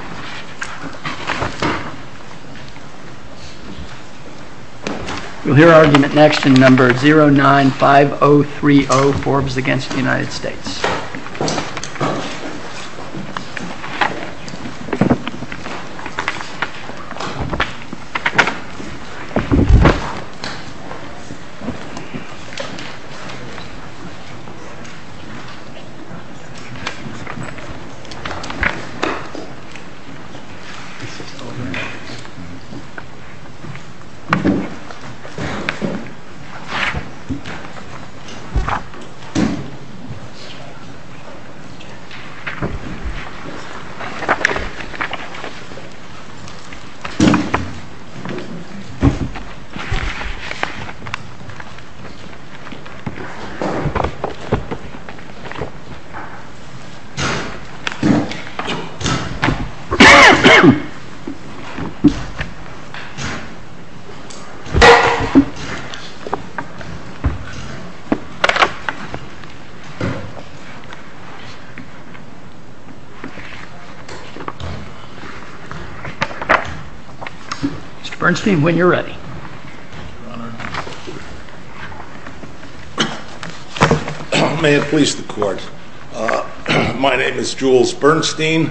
We will hear argument next in No. 095030, Forbes v. United States. This is old news. Mr. Bernstein, when you're ready. May it please the court. My name is Jules Bernstein.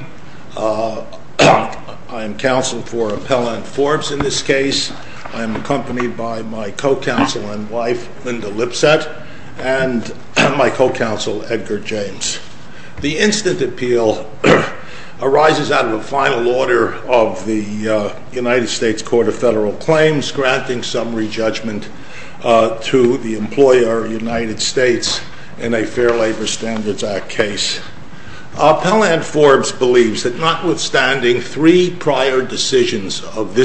I am counsel for Appellant Forbes in this case. I am accompanied by my co-counsel and wife, Linda Lipset, and my co-counsel, Edgar James. The instant appeal arises out of a final order of the United States Court of Federal Claims granting summary judgment to the employer, United States, in a Fair Labor Standards Act case. Appellant Forbes believes that notwithstanding three prior decisions of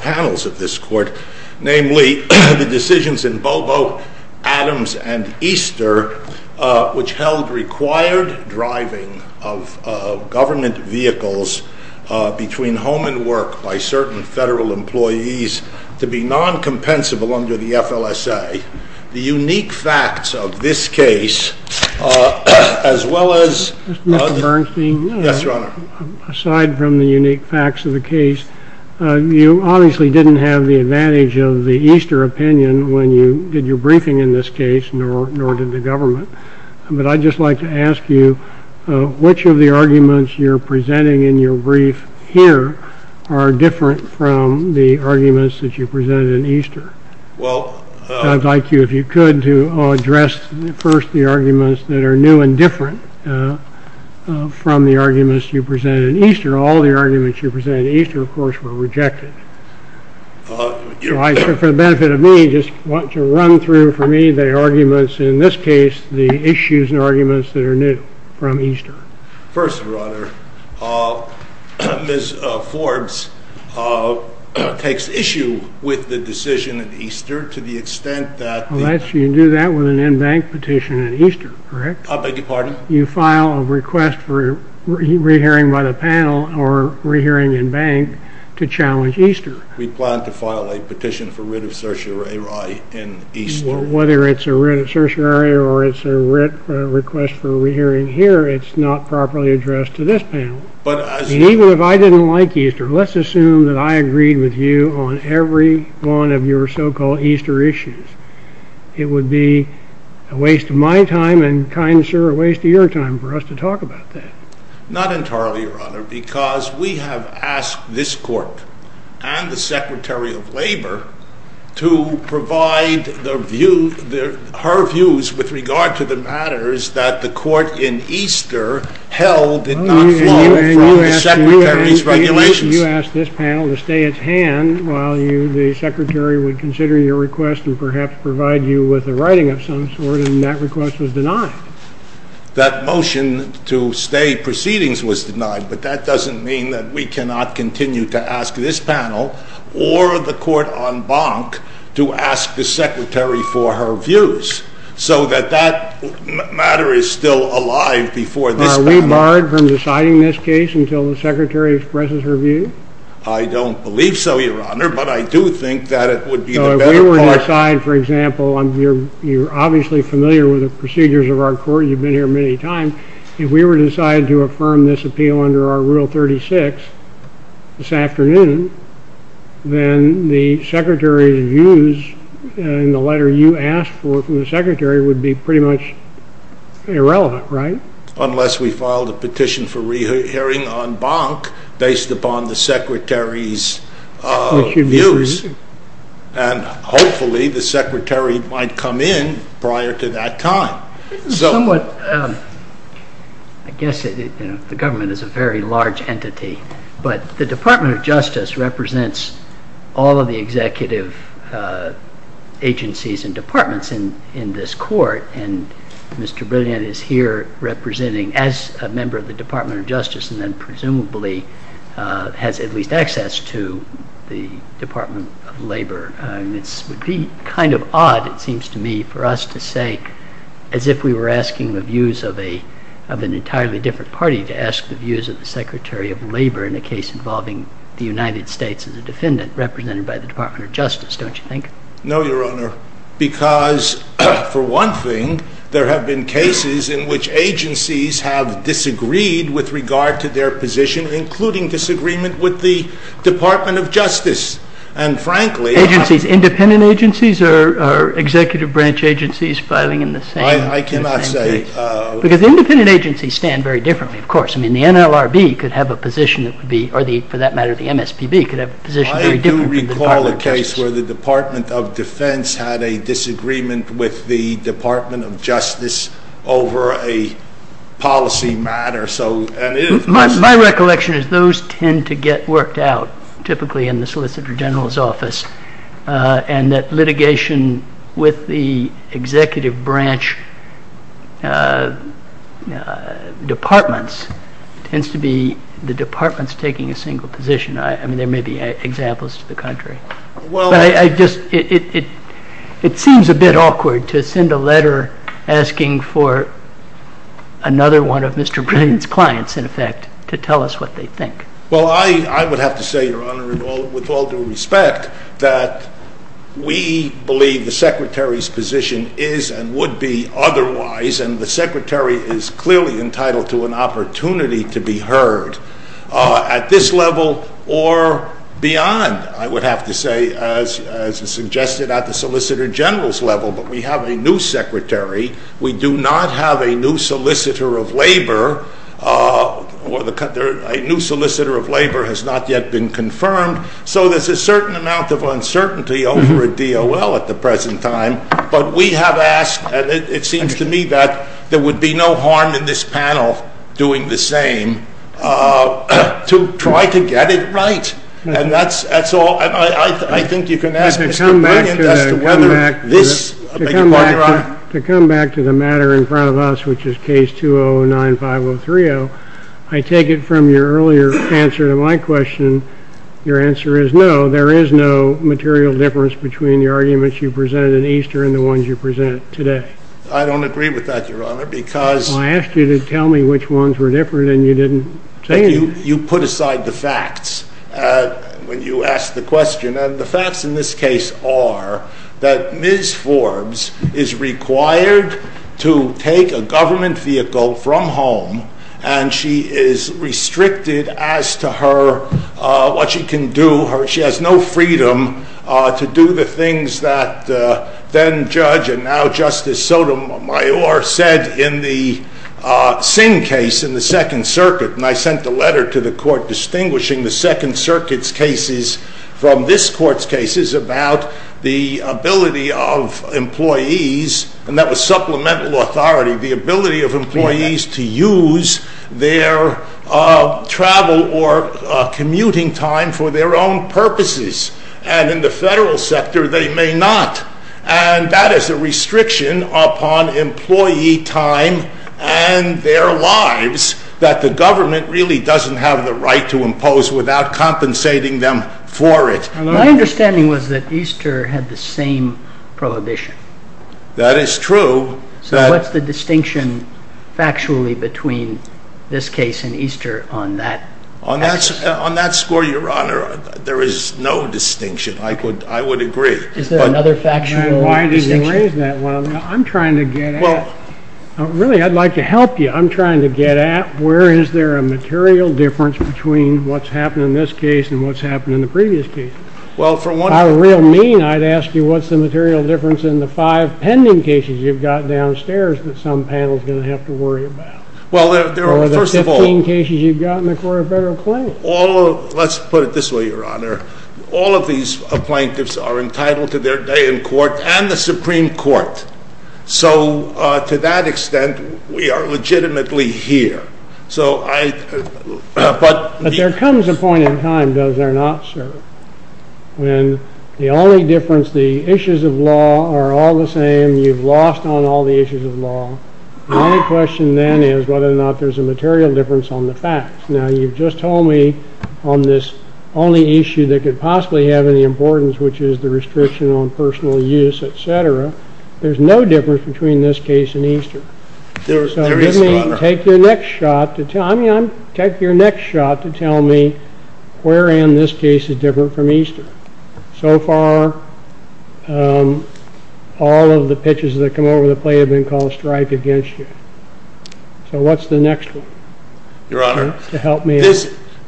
panels of this court, namely the decisions in Bobo, Adams, and Easter, which held required driving of government vehicles between home and work by certain federal employees to be non-compensable under the FLSA, the unique facts of this case, as well as— Mr. Bernstein, aside from the unique facts of the case, you obviously didn't have the advantage of the Easter opinion when you did your briefing in this case, nor did the government. But I'd just like to ask you, which of the arguments you're presenting in your brief here are different from the arguments that you presented in Easter? I'd like you, if you could, to address first the arguments that are new and different from the arguments you presented in Easter. All the arguments you presented in Easter, of course, were rejected. For the benefit of me, I just want to run through, for me, the arguments in this case, the issues and arguments that are new from Easter. First, Your Honor, Ms. Forbes takes issue with the decision in Easter to the extent that— Unless you do that with an in-bank petition in Easter, correct? I beg your pardon? You file a request for re-hearing by the panel or re-hearing in bank to challenge Easter. We plan to file a petition for writ of certiorari in Easter. Whether it's a writ of certiorari or it's a request for re-hearing here, it's not properly addressed to this panel. Even if I didn't like Easter, let's assume that I agreed with you on every one of your so-called Easter issues. It would be a waste of my time and, kind sir, a waste of your time for us to talk about that. Not entirely, Your Honor, because we have asked this court and the Secretary of Labor to provide her views with regard to the matters that the court in Easter held did not follow from the Secretary's regulations. You asked this panel to stay at hand while the Secretary would consider your request and perhaps provide you with a writing of some sort, and that request was denied. That motion to stay proceedings was denied, but that doesn't mean that we cannot continue to ask this panel or the court on bank to ask the Secretary for her views so that that matter is still alive before this panel. Are we barred from deciding this case until the Secretary expresses her view? I don't believe so, Your Honor, but I do think that it would be the better part. If we were to decide, for example, you're obviously familiar with the procedures of our court, you've been here many times. If we were to decide to affirm this appeal under our Rule 36 this afternoon, then the Secretary's views and the letter you asked for from the Secretary would be pretty much irrelevant, right? Unless we filed a petition for re-hearing on bank based upon the Secretary's views, and hopefully the Secretary might come in prior to that time. I guess the government is a very large entity, but the Department of Justice represents all of the executive agencies and departments in this court, and Mr. Brilliant is here representing as a member of the Department of Justice and then presumably has at least access to the Department of Labor. It would be kind of odd, it seems to me, for us to say, as if we were asking the views of an entirely different party, to ask the views of the Secretary of Labor in a case involving the United States as a defendant represented by the Department of Justice, don't you think? No, Your Honor, because for one thing, there have been cases in which agencies have disagreed with regard to their position, including disagreement with the Department of Justice. Independent agencies or executive branch agencies filing in the same case? I cannot say. Because independent agencies stand very differently, of course. I mean, the NLRB could have a position, or for that matter, the MSPB could have a position very different from the Department of Justice. I do recall a case where the Department of Defense had a disagreement with the Department of Justice over a policy matter. My recollection is those tend to get worked out, typically in the Solicitor General's office, and that litigation with the executive branch departments tends to be the departments taking a single position. I mean, there may be examples to the contrary. It seems a bit awkward to send a letter asking for another one of Mr. Brilliant's clients, in effect, to tell us what they think. Well, I would have to say, Your Honor, with all due respect, that we believe the Secretary's position is and would be otherwise, and the Secretary is clearly entitled to an opportunity to be heard at this level or beyond, I would have to say, as suggested at the Solicitor General's level. But we have a new Secretary. We do not have a new Solicitor of Labor. A new Solicitor of Labor has not yet been confirmed, so there's a certain amount of uncertainty over a DOL at the present time. But we have asked, and it seems to me that there would be no harm in this panel doing the same, to try to get it right. And that's all. I think you can ask Mr. Brilliant as to whether this – To come back to the matter in front of us, which is Case 20-9503-0, I take it from your earlier answer to my question, your answer is no. There is no material difference between the arguments you presented at Easter and the ones you present today. I don't agree with that, Your Honor, because – Well, I asked you to tell me which ones were different, and you didn't say anything. You put aside the facts when you asked the question. And the facts in this case are that Ms. Forbes is required to take a government vehicle from home, and she is restricted as to what she can do. She has no freedom to do the things that then-Judge and now-Justice Sotomayor said in the Singh case in the Second Circuit. And I sent a letter to the Court distinguishing the Second Circuit's cases from this Court's cases about the ability of employees, and that was supplemental authority, the ability of employees to use their travel or commuting time for their own purposes. And in the federal sector, they may not. And that is a restriction upon employee time and their lives that the government really doesn't have the right to impose without compensating them for it. My understanding was that Easter had the same prohibition. That is true. So what's the distinction factually between this case and Easter on that basis? On that score, Your Honor, there is no distinction. I would agree. Is there another factual distinction? I'm trying to get at it. Really, I'd like to help you. I'm trying to get at where is there a material difference between what's happened in this case and what's happened in the previous case. By real mean, I'd ask you what's the material difference in the five pending cases you've got downstairs that some panel's going to have to worry about. Or the 15 cases you've got in the Court of Federal Claims. Let's put it this way, Your Honor. All of these plaintiffs are entitled to their day in court and the Supreme Court. So to that extent, we are legitimately here. But there comes a point in time, does there not, sir, when the only difference, the issues of law are all the same. You've lost on all the issues of law. The only question then is whether or not there's a material difference on the facts. Now, you've just told me on this only issue that could possibly have any importance, which is the restriction on personal use, etc. There's no difference between this case and Easter. There is, Your Honor. So let me take your next shot to tell me where in this case is different from Easter. So far, all of the pitches that come over the plate have been called a strike against you. So what's the next one? Your Honor,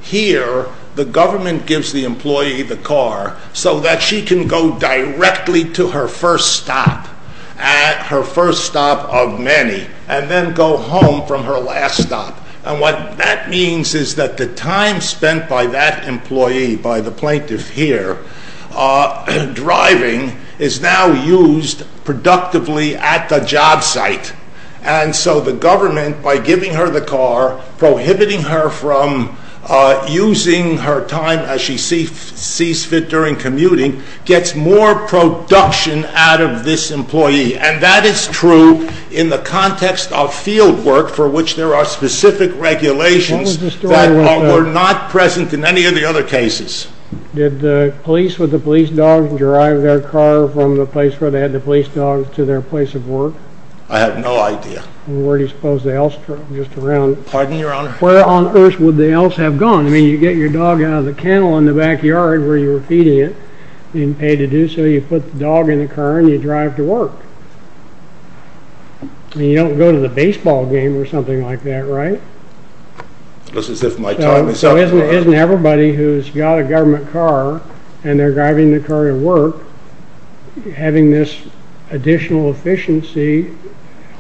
here the government gives the employee the car so that she can go directly to her first stop, her first stop of many, and then go home from her last stop. And what that means is that the time spent by that employee, by the plaintiff here, driving, is now used productively at the job site. And so the government, by giving her the car, prohibiting her from using her time as she sees fit during commuting, gets more production out of this employee. And that is true in the context of field work for which there are specific regulations that were not present in any of the other cases. Did the police with the police dogs drive their car from the place where they had the police dogs to their place of work? I have no idea. Where do you suppose they else drove just around? Pardon, Your Honor? Where on earth would they else have gone? I mean, you get your dog out of the kennel in the backyard where you were feeding it, you didn't pay to do so, you put the dog in the car and you drive to work. You don't go to the baseball game or something like that, right? This is if my time is up. Isn't everybody who's got a government car and they're driving the car to work having this additional efficiency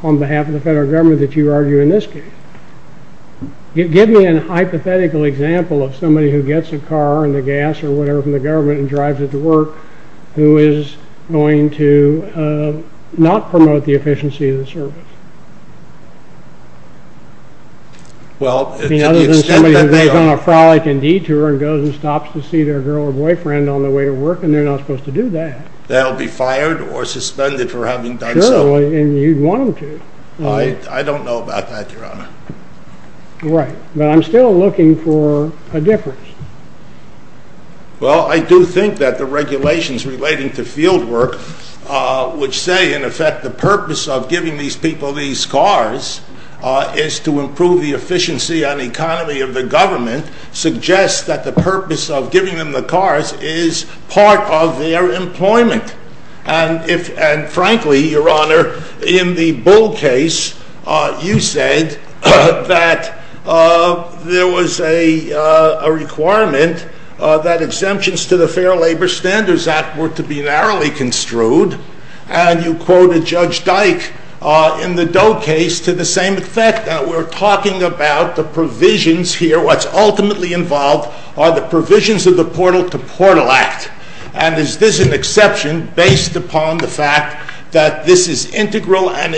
on behalf of the federal government that you argue in this case? Give me an hypothetical example of somebody who gets a car and the gas or whatever from the government and drives it to work who is going to not promote the efficiency of the service. I mean, other than somebody who goes on a frolic and detour and goes and stops to see their girl or boyfriend on the way to work and they're not supposed to do that. They'll be fired or suspended for having done so. Sure, and you'd want them to. I don't know about that, Your Honor. Right, but I'm still looking for a difference. Well, I do think that the regulations relating to fieldwork, which say in effect the purpose of giving these people these cars is to improve the efficiency and economy of the government, suggests that the purpose of giving them the cars is part of their employment. And frankly, Your Honor, in the Bull case, you said that there was a requirement that exemptions to the Fair Labor Standards Act were to be narrowly construed. And you quoted Judge Dyke in the Doe case to the same effect. We're talking about the provisions here. What's ultimately involved are the provisions of the Portal to Portal Act. And is this an exception based upon the fact that this is integral and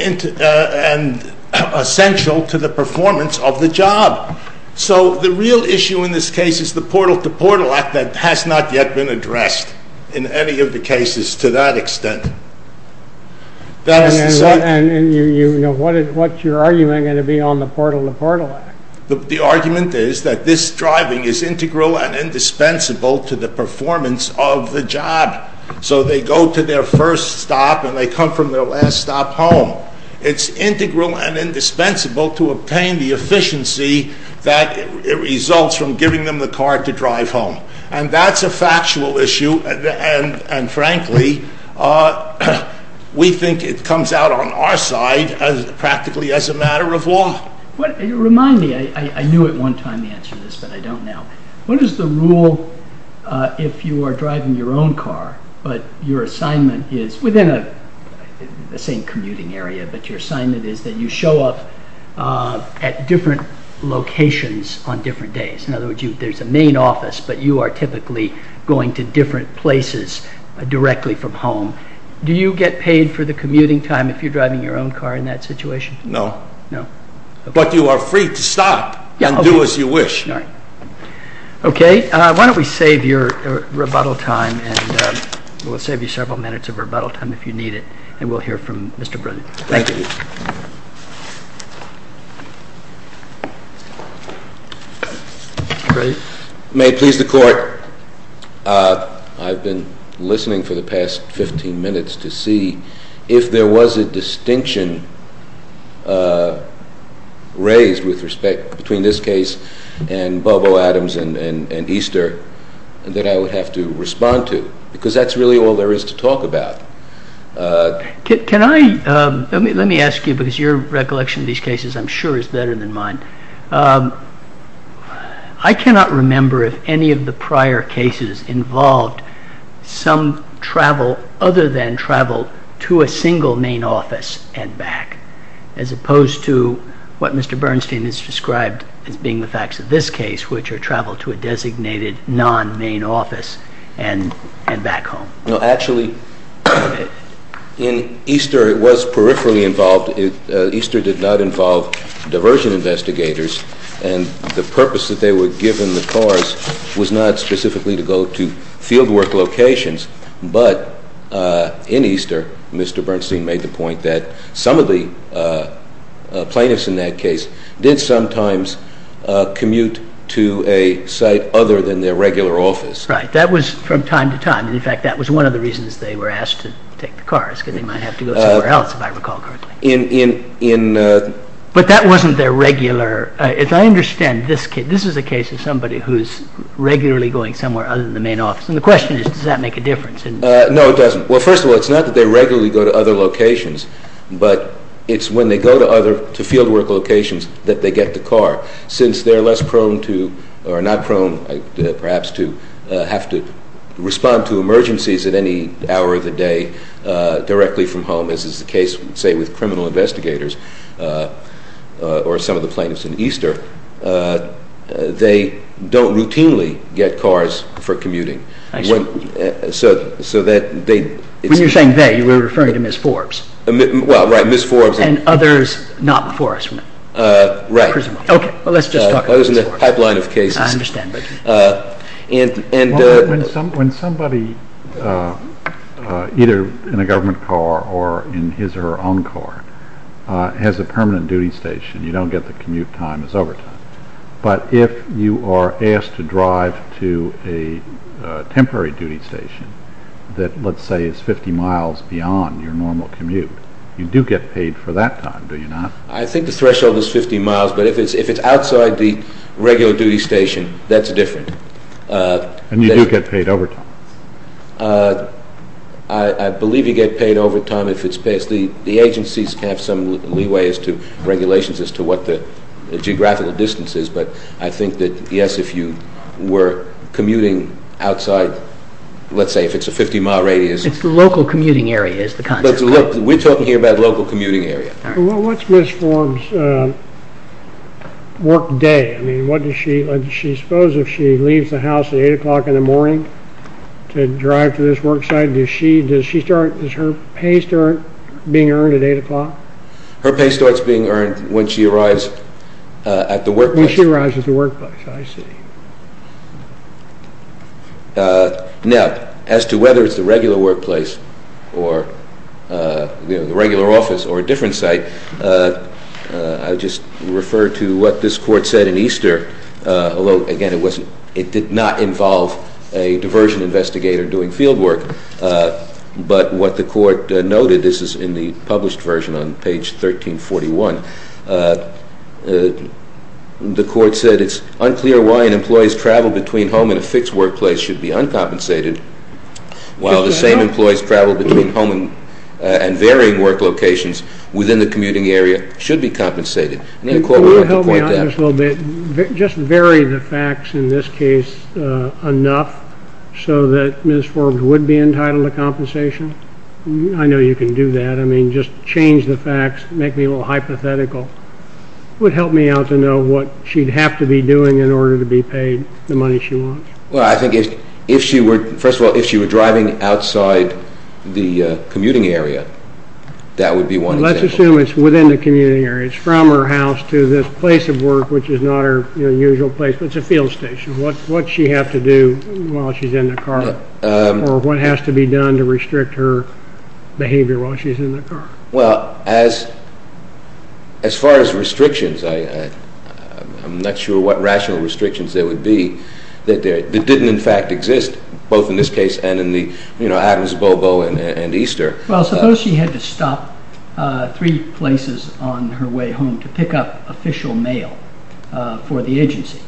essential to the performance of the job? So the real issue in this case is the Portal to Portal Act that has not yet been addressed in any of the cases to that extent. And what's your argument going to be on the Portal to Portal Act? The argument is that this driving is integral and indispensable to the performance of the job. So they go to their first stop and they come from their last stop home. It's integral and indispensable to obtain the efficiency that results from giving them the car to drive home. And that's a factual issue, and frankly, we think it comes out on our side practically as a matter of law. Remind me, I knew at one time the answer to this, but I don't now. What is the rule if you are driving your own car, but your assignment is, within the same commuting area, but your assignment is that you show up at different locations on different days? In other words, there's a main office, but you are typically going to different places directly from home. Do you get paid for the commuting time if you're driving your own car in that situation? No. No. But you are free to stop and do as you wish. Okay. Why don't we save your rebuttal time, and we'll save you several minutes of rebuttal time if you need it, and we'll hear from Mr. Brennan. Thank you. May it please the Court. I've been listening for the past 15 minutes to see if there was a distinction raised with respect between this case and Bobo Adams and Easter that I would have to respond to, because that's really all there is to talk about. Let me ask you, because your recollection of these cases I'm sure is better than mine. I cannot remember if any of the prior cases involved some travel other than travel to a single main office and back, as opposed to what Mr. Bernstein has described as being the facts of this case, which are travel to a designated non-main office and back home. No, actually, in Easter it was peripherally involved. Easter did not involve diversion investigators, and the purpose that they were given the cars was not specifically to go to field work locations. But in Easter, Mr. Bernstein made the point that some of the plaintiffs in that case did sometimes commute to a site other than their regular office. Right. That was from time to time. In fact, that was one of the reasons they were asked to take the cars, because they might have to go somewhere else, if I recall correctly. But that wasn't their regular. As I understand, this is a case of somebody who's regularly going somewhere other than the main office. And the question is, does that make a difference? No, it doesn't. Well, first of all, it's not that they regularly go to other locations, but it's when they go to field work locations that they get the car, since they're less prone to—or not prone, perhaps, to have to respond to emergencies at any hour of the day directly from home, as is the case, say, with criminal investigators or some of the plaintiffs in Easter. They don't routinely get cars for commuting. I see. So that they— When you're saying they, you were referring to Ms. Forbes. Well, right, Ms. Forbes. And others not before us. Right. Okay. Well, let's just talk about Ms. Forbes. I was in the pipeline of cases. I understand. And— When somebody, either in a government car or in his or her own car, has a permanent duty station, you don't get the commute time as overtime. But if you are asked to drive to a temporary duty station that, let's say, is 50 miles beyond your normal commute, you do get paid for that time, do you not? I think the threshold is 50 miles, but if it's outside the regular duty station, that's different. And you do get paid overtime. I believe you get paid overtime if it's—the agencies have some leeway as to regulations as to what the geographical distance is, but I think that, yes, if you were commuting outside, let's say, if it's a 50-mile radius— It's the local commuting area is the concept, right? We're talking here about local commuting area. What's Ms. Forbes' work day? I mean, what does she—I suppose if she leaves the house at 8 o'clock in the morning to drive to this work site, does she start—does her pay start being earned at 8 o'clock? Her pay starts being earned when she arrives at the workplace. When she arrives at the workplace, I see. Now, as to whether it's the regular workplace or the regular office or a different site, I'll just refer to what this court said in Easter, although, again, it did not involve a diversion investigator doing field work, but what the court noted—this is in the published version on page 1341— the court said it's unclear why an employee's travel between home and a fixed workplace should be uncompensated while the same employee's travel between home and varying work locations within the commuting area should be compensated. The court wanted to point that out. Could you help me out just a little bit? Just vary the facts in this case enough so that Ms. Forbes would be entitled to compensation? I know you can do that. I mean, just change the facts. Make me a little hypothetical. It would help me out to know what she'd have to be doing in order to be paid the money she wants. Well, I think if she were—first of all, if she were driving outside the commuting area, that would be one example. Let's assume it's within the commuting area. It's from her house to this place of work, which is not her usual place, but it's a field station. What does she have to do while she's in the car, or what has to be done to restrict her behavior while she's in the car? Well, as far as restrictions, I'm not sure what rational restrictions there would be that didn't in fact exist, both in this case and in Adams, Bobo, and Easter. Well, suppose she had to stop three places on her way home to pick up official mail for the agency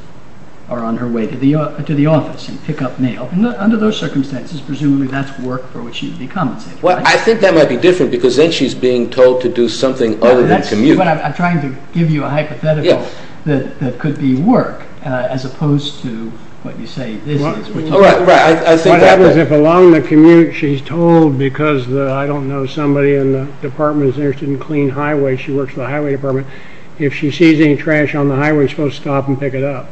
or on her way to the office and pick up mail. Under those circumstances, presumably that's work for which she'd be compensated. Well, I think that might be different because then she's being told to do something other than commute. I'm trying to give you a hypothetical that could be work as opposed to what you say this is. Right, right. What happens if along the commute she's told because, I don't know, somebody in the department is interested in clean highways, she works for the highway department, if she sees any trash on the highway, she's supposed to stop and pick it up.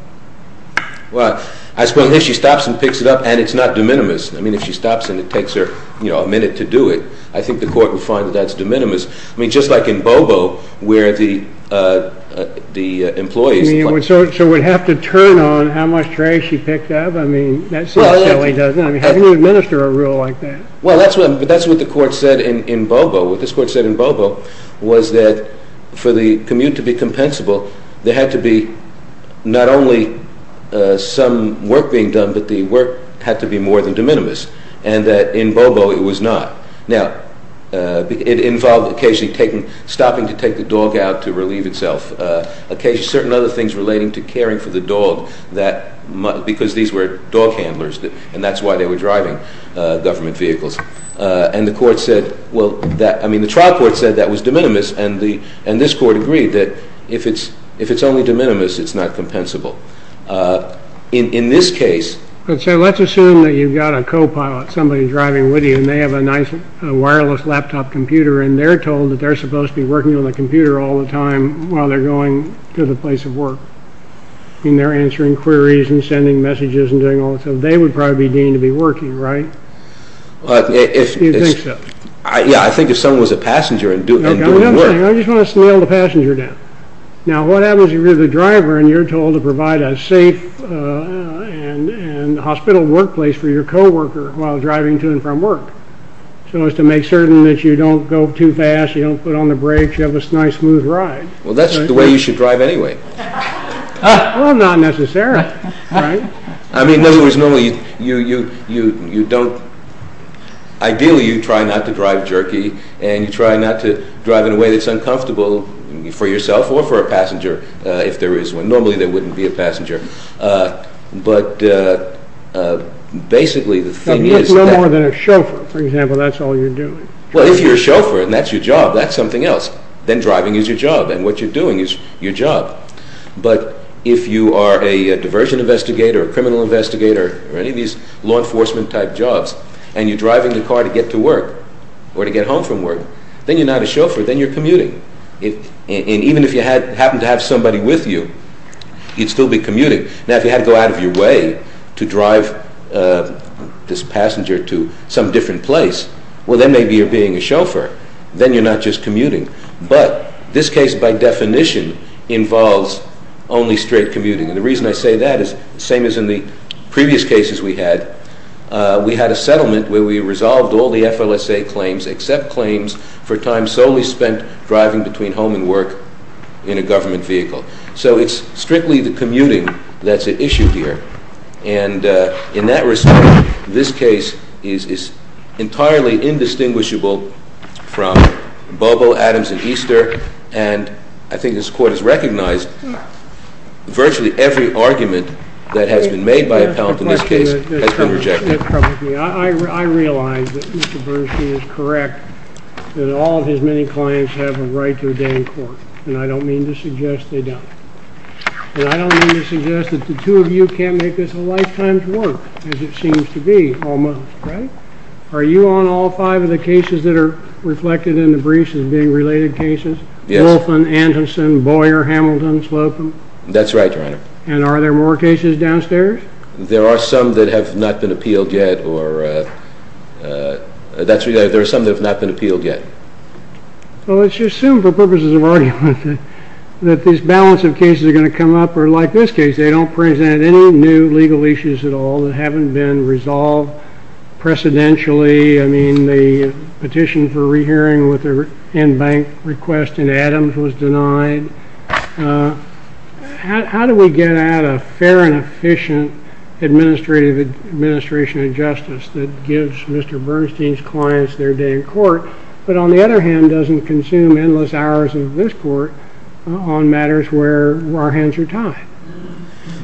Well, I suppose if she stops and picks it up, and it's not de minimis. I mean, if she stops and it takes her a minute to do it, I think the court would find that that's de minimis. I mean, just like in Bobo where the employees... So we'd have to turn on how much trash she picked up? I mean, that seems silly, doesn't it? How do you administer a rule like that? Well, that's what the court said in Bobo. What this court said in Bobo was that for the commute to be compensable, there had to be not only some work being done, but the work had to be more than de minimis and that in Bobo it was not. Now, it involved occasionally stopping to take the dog out to relieve itself, occasionally certain other things relating to caring for the dog because these were dog handlers, and that's why they were driving government vehicles. And the trial court said that was de minimis, and this court agreed that if it's only de minimis, it's not compensable. In this case... So let's assume that you've got a co-pilot, somebody driving with you, and they have a nice wireless laptop computer, and they're told that they're supposed to be working on the computer all the time while they're going to the place of work. I mean, they're answering queries and sending messages and doing all that stuff. They would probably be deemed to be working, right? You think so. Yeah, I think if someone was a passenger and doing the work... I just want to nail the passenger down. Now, what happens if you're the driver and you're told to provide a safe and hospital workplace for your co-worker while driving to and from work so as to make certain that you don't go too fast, you don't put on the brakes, you have a nice smooth ride? Well, that's the way you should drive anyway. Well, not necessarily, right? I mean, in other words, normally you don't... Ideally, you try not to drive jerky, and you try not to drive in a way that's uncomfortable for yourself or for a passenger, if there is one. Normally, there wouldn't be a passenger. But basically, the thing is... No more than a chauffeur, for example, that's all you're doing. Well, if you're a chauffeur and that's your job, that's something else. Then driving is your job, and what you're doing is your job. But if you are a diversion investigator, a criminal investigator, or any of these law enforcement type jobs, and you're driving the car to get to work or to get home from work, then you're not a chauffeur, then you're commuting. And even if you happen to have somebody with you, you'd still be commuting. Now, if you had to go out of your way to drive this passenger to some different place, well, then maybe you're being a chauffeur. Then you're not just commuting. But this case, by definition, involves only straight commuting. And the reason I say that is the same as in the previous cases we had. We had a settlement where we resolved all the FLSA claims, except claims for time solely spent driving between home and work in a government vehicle. So it's strictly the commuting that's at issue here. And in that respect, this case is entirely indistinguishable from Bobo, Adams, and Easter. And I think this Court has recognized virtually every argument that has been made by appellant in this case has been rejected. I realize that Mr. Bernstein is correct that all of his many clients have a right to a day in court, and I don't mean to suggest they don't. And I don't mean to suggest that the two of you can't make this a lifetime's work, as it seems to be, almost, right? Are you on all five of the cases that are reflected in the briefs as being related cases? Yes. Wolfen, Anderson, Boyer, Hamilton, Slocum? That's right, Your Honor. And are there more cases downstairs? There are some that have not been appealed yet. Well, let's just assume for purposes of argument that this balance of cases are going to come up, or like this case, they don't present any new legal issues at all that haven't been resolved precedentially. I mean, the petition for re-hearing with the in-bank request in Adams was denied. How do we get at a fair and efficient administrative administration adjustment that gives Mr. Bernstein's clients their day in court, but on the other hand doesn't consume endless hours of this court on matters where our hands are tied?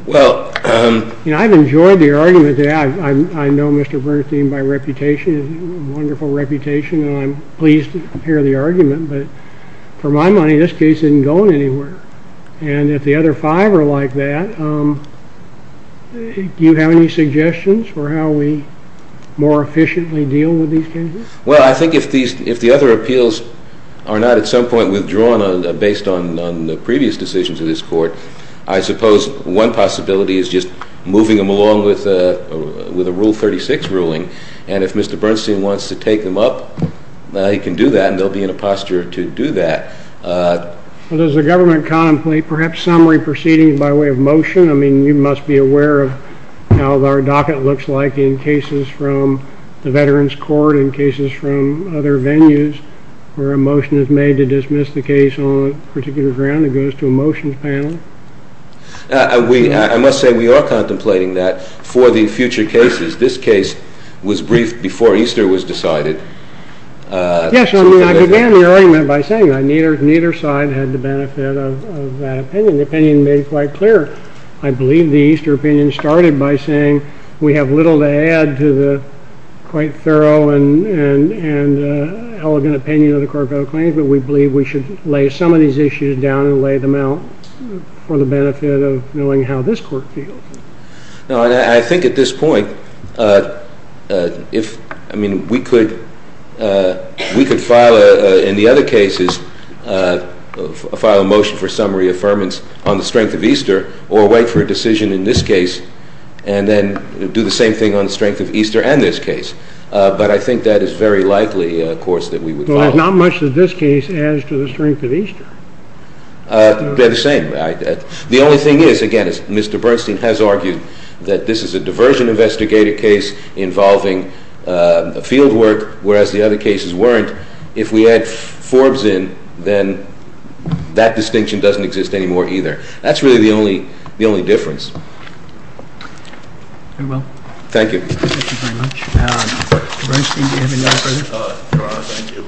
Well, I've enjoyed the argument that I know Mr. Bernstein by reputation, a wonderful reputation, and I'm pleased to hear the argument, but for my money, this case isn't going anywhere. And if the other five are like that, do you have any suggestions for how we more efficiently deal with these cases? Well, I think if the other appeals are not at some point withdrawn based on the previous decisions of this court, I suppose one possibility is just moving them along with a Rule 36 ruling, and if Mr. Bernstein wants to take them up, he can do that, and they'll be in a posture to do that. Well, does the government contemplate perhaps summary proceedings by way of motion? I mean, you must be aware of how our docket looks like in cases from the Veterans Court, in cases from other venues where a motion is made to dismiss the case on a particular ground. It goes to a motions panel. I must say we are contemplating that for the future cases. This case was briefed before Easter was decided. Yes, I began the argument by saying neither side had the benefit of that opinion. The opinion made quite clear. I believe the Easter opinion started by saying we have little to add to the quite thorough and elegant opinion of the Court of Claims, but we believe we should lay some of these issues down and lay them out for the benefit of knowing how this Court feels. I think at this point we could file, in the other cases, a motion for summary affirmance on the strength of Easter or wait for a decision in this case and then do the same thing on the strength of Easter and this case, but I think that is very likely, of course, that we would follow. There's not much that this case adds to the strength of Easter. They're the same. The only thing is, again, as Mr. Bernstein has argued, that this is a diversion investigator case involving field work, whereas the other cases weren't. If we add Forbes in, then that distinction doesn't exist anymore either. That's really the only difference. Very well. Thank you. Thank you very much. Mr. Bernstein, do you have any further? Your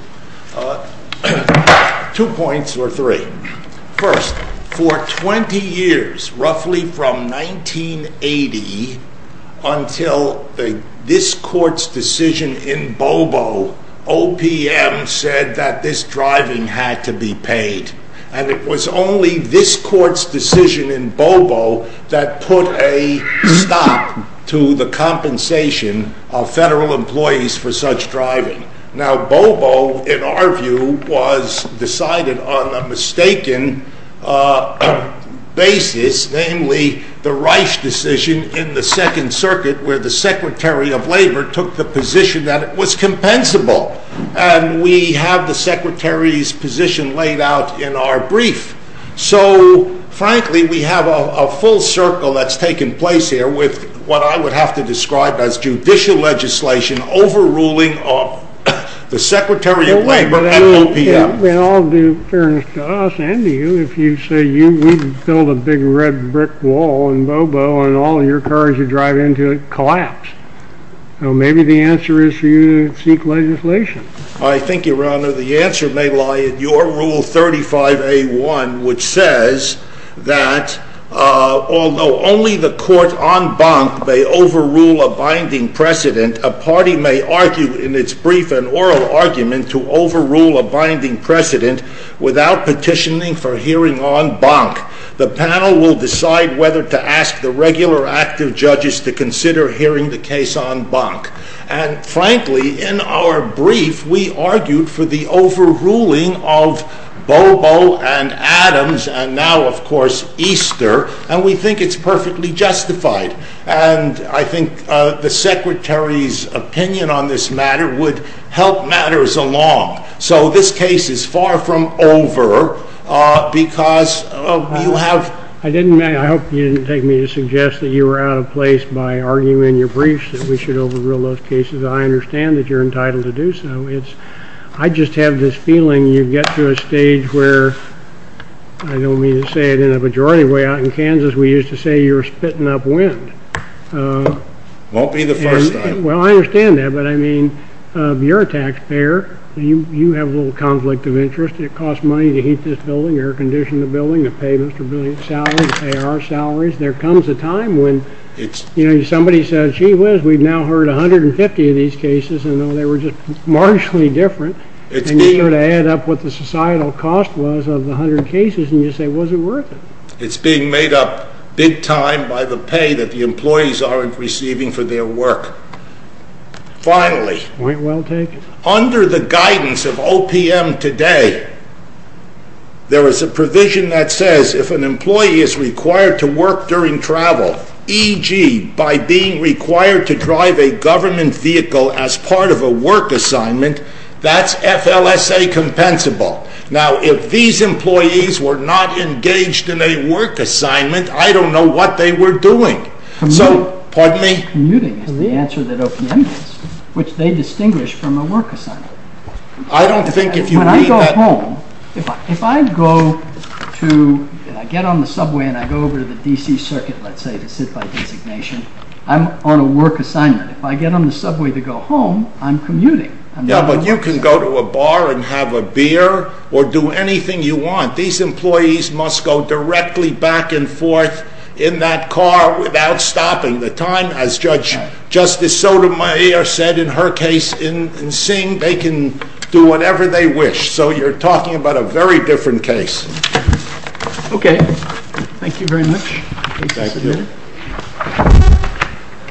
Honor, thank you. Two points or three. First, for 20 years, roughly from 1980 until this Court's decision in Bobo, OPM said that this driving had to be paid, and it was only this Court's decision in Bobo that put a stop to the compensation of federal employees for such driving. Now, Bobo, in our view, was decided on a mistaken basis, namely the Reich decision in the Second Circuit where the Secretary of Labor took the position that it was compensable, and we have the Secretary's position laid out in our brief. So, frankly, we have a full circle that's taken place here with what I would have to describe as judicial legislation overruling the Secretary of Labor and OPM. Well, in all due fairness to us and to you, if you say we built a big red brick wall in Bobo and all your cars you drive into it collapse, maybe the answer is for you to seek legislation. I think, Your Honor, the answer may lie in your Rule 35a.1, which says that although only the court en banc may overrule a binding precedent, a party may argue in its brief an oral argument to overrule a binding precedent without petitioning for hearing en banc. The panel will decide whether to ask the regular active judges to consider hearing the case en banc. And, frankly, in our brief we argued for the overruling of Bobo and Adams and now, of course, Easter, and we think it's perfectly justified. And I think the Secretary's opinion on this matter would help matters along. So this case is far from over because you have... I hope you didn't take me to suggest that you were out of place by arguing in your briefs that we should overrule those cases. I understand that you're entitled to do so. I just have this feeling you get to a stage where, I don't mean to say it in a majority way, out in Kansas we used to say you were spitting up wind. Won't be the first time. Well, I understand that, but, I mean, you're a taxpayer. You have a little conflict of interest. It costs money to heat this building, air condition the building, to pay Mr. Billion's salary, pay our salaries. There comes a time when, you know, somebody says, gee whiz, we've now heard 150 of these cases and they were just marginally different. And you sort of add up what the societal cost was of the 100 cases and you say, was it worth it? It's being made up big time by the pay that the employees aren't receiving for their work. Finally... Point well taken. Under the guidance of OPM today, there is a provision that says if an employee is required to work during travel, e.g., by being required to drive a government vehicle as part of a work assignment, that's FLSA compensable. Now, if these employees were not engaged in a work assignment, I don't know what they were doing. So, pardon me? I think commuting is the answer that OPM gets, which they distinguish from a work assignment. I don't think if you mean that... When I go home, if I go to... I get on the subway and I go over to the D.C. Circuit, let's say, to sit by designation, I'm on a work assignment. If I get on the subway to go home, I'm commuting. Yeah, but you can go to a bar and have a beer or do anything you want. These employees must go directly back and forth in that car without stopping. The time, as Judge Justice Sotomayor said in her case in Sing, they can do whatever they wish. So, you're talking about a very different case. Okay. Thank you very much. Thank you.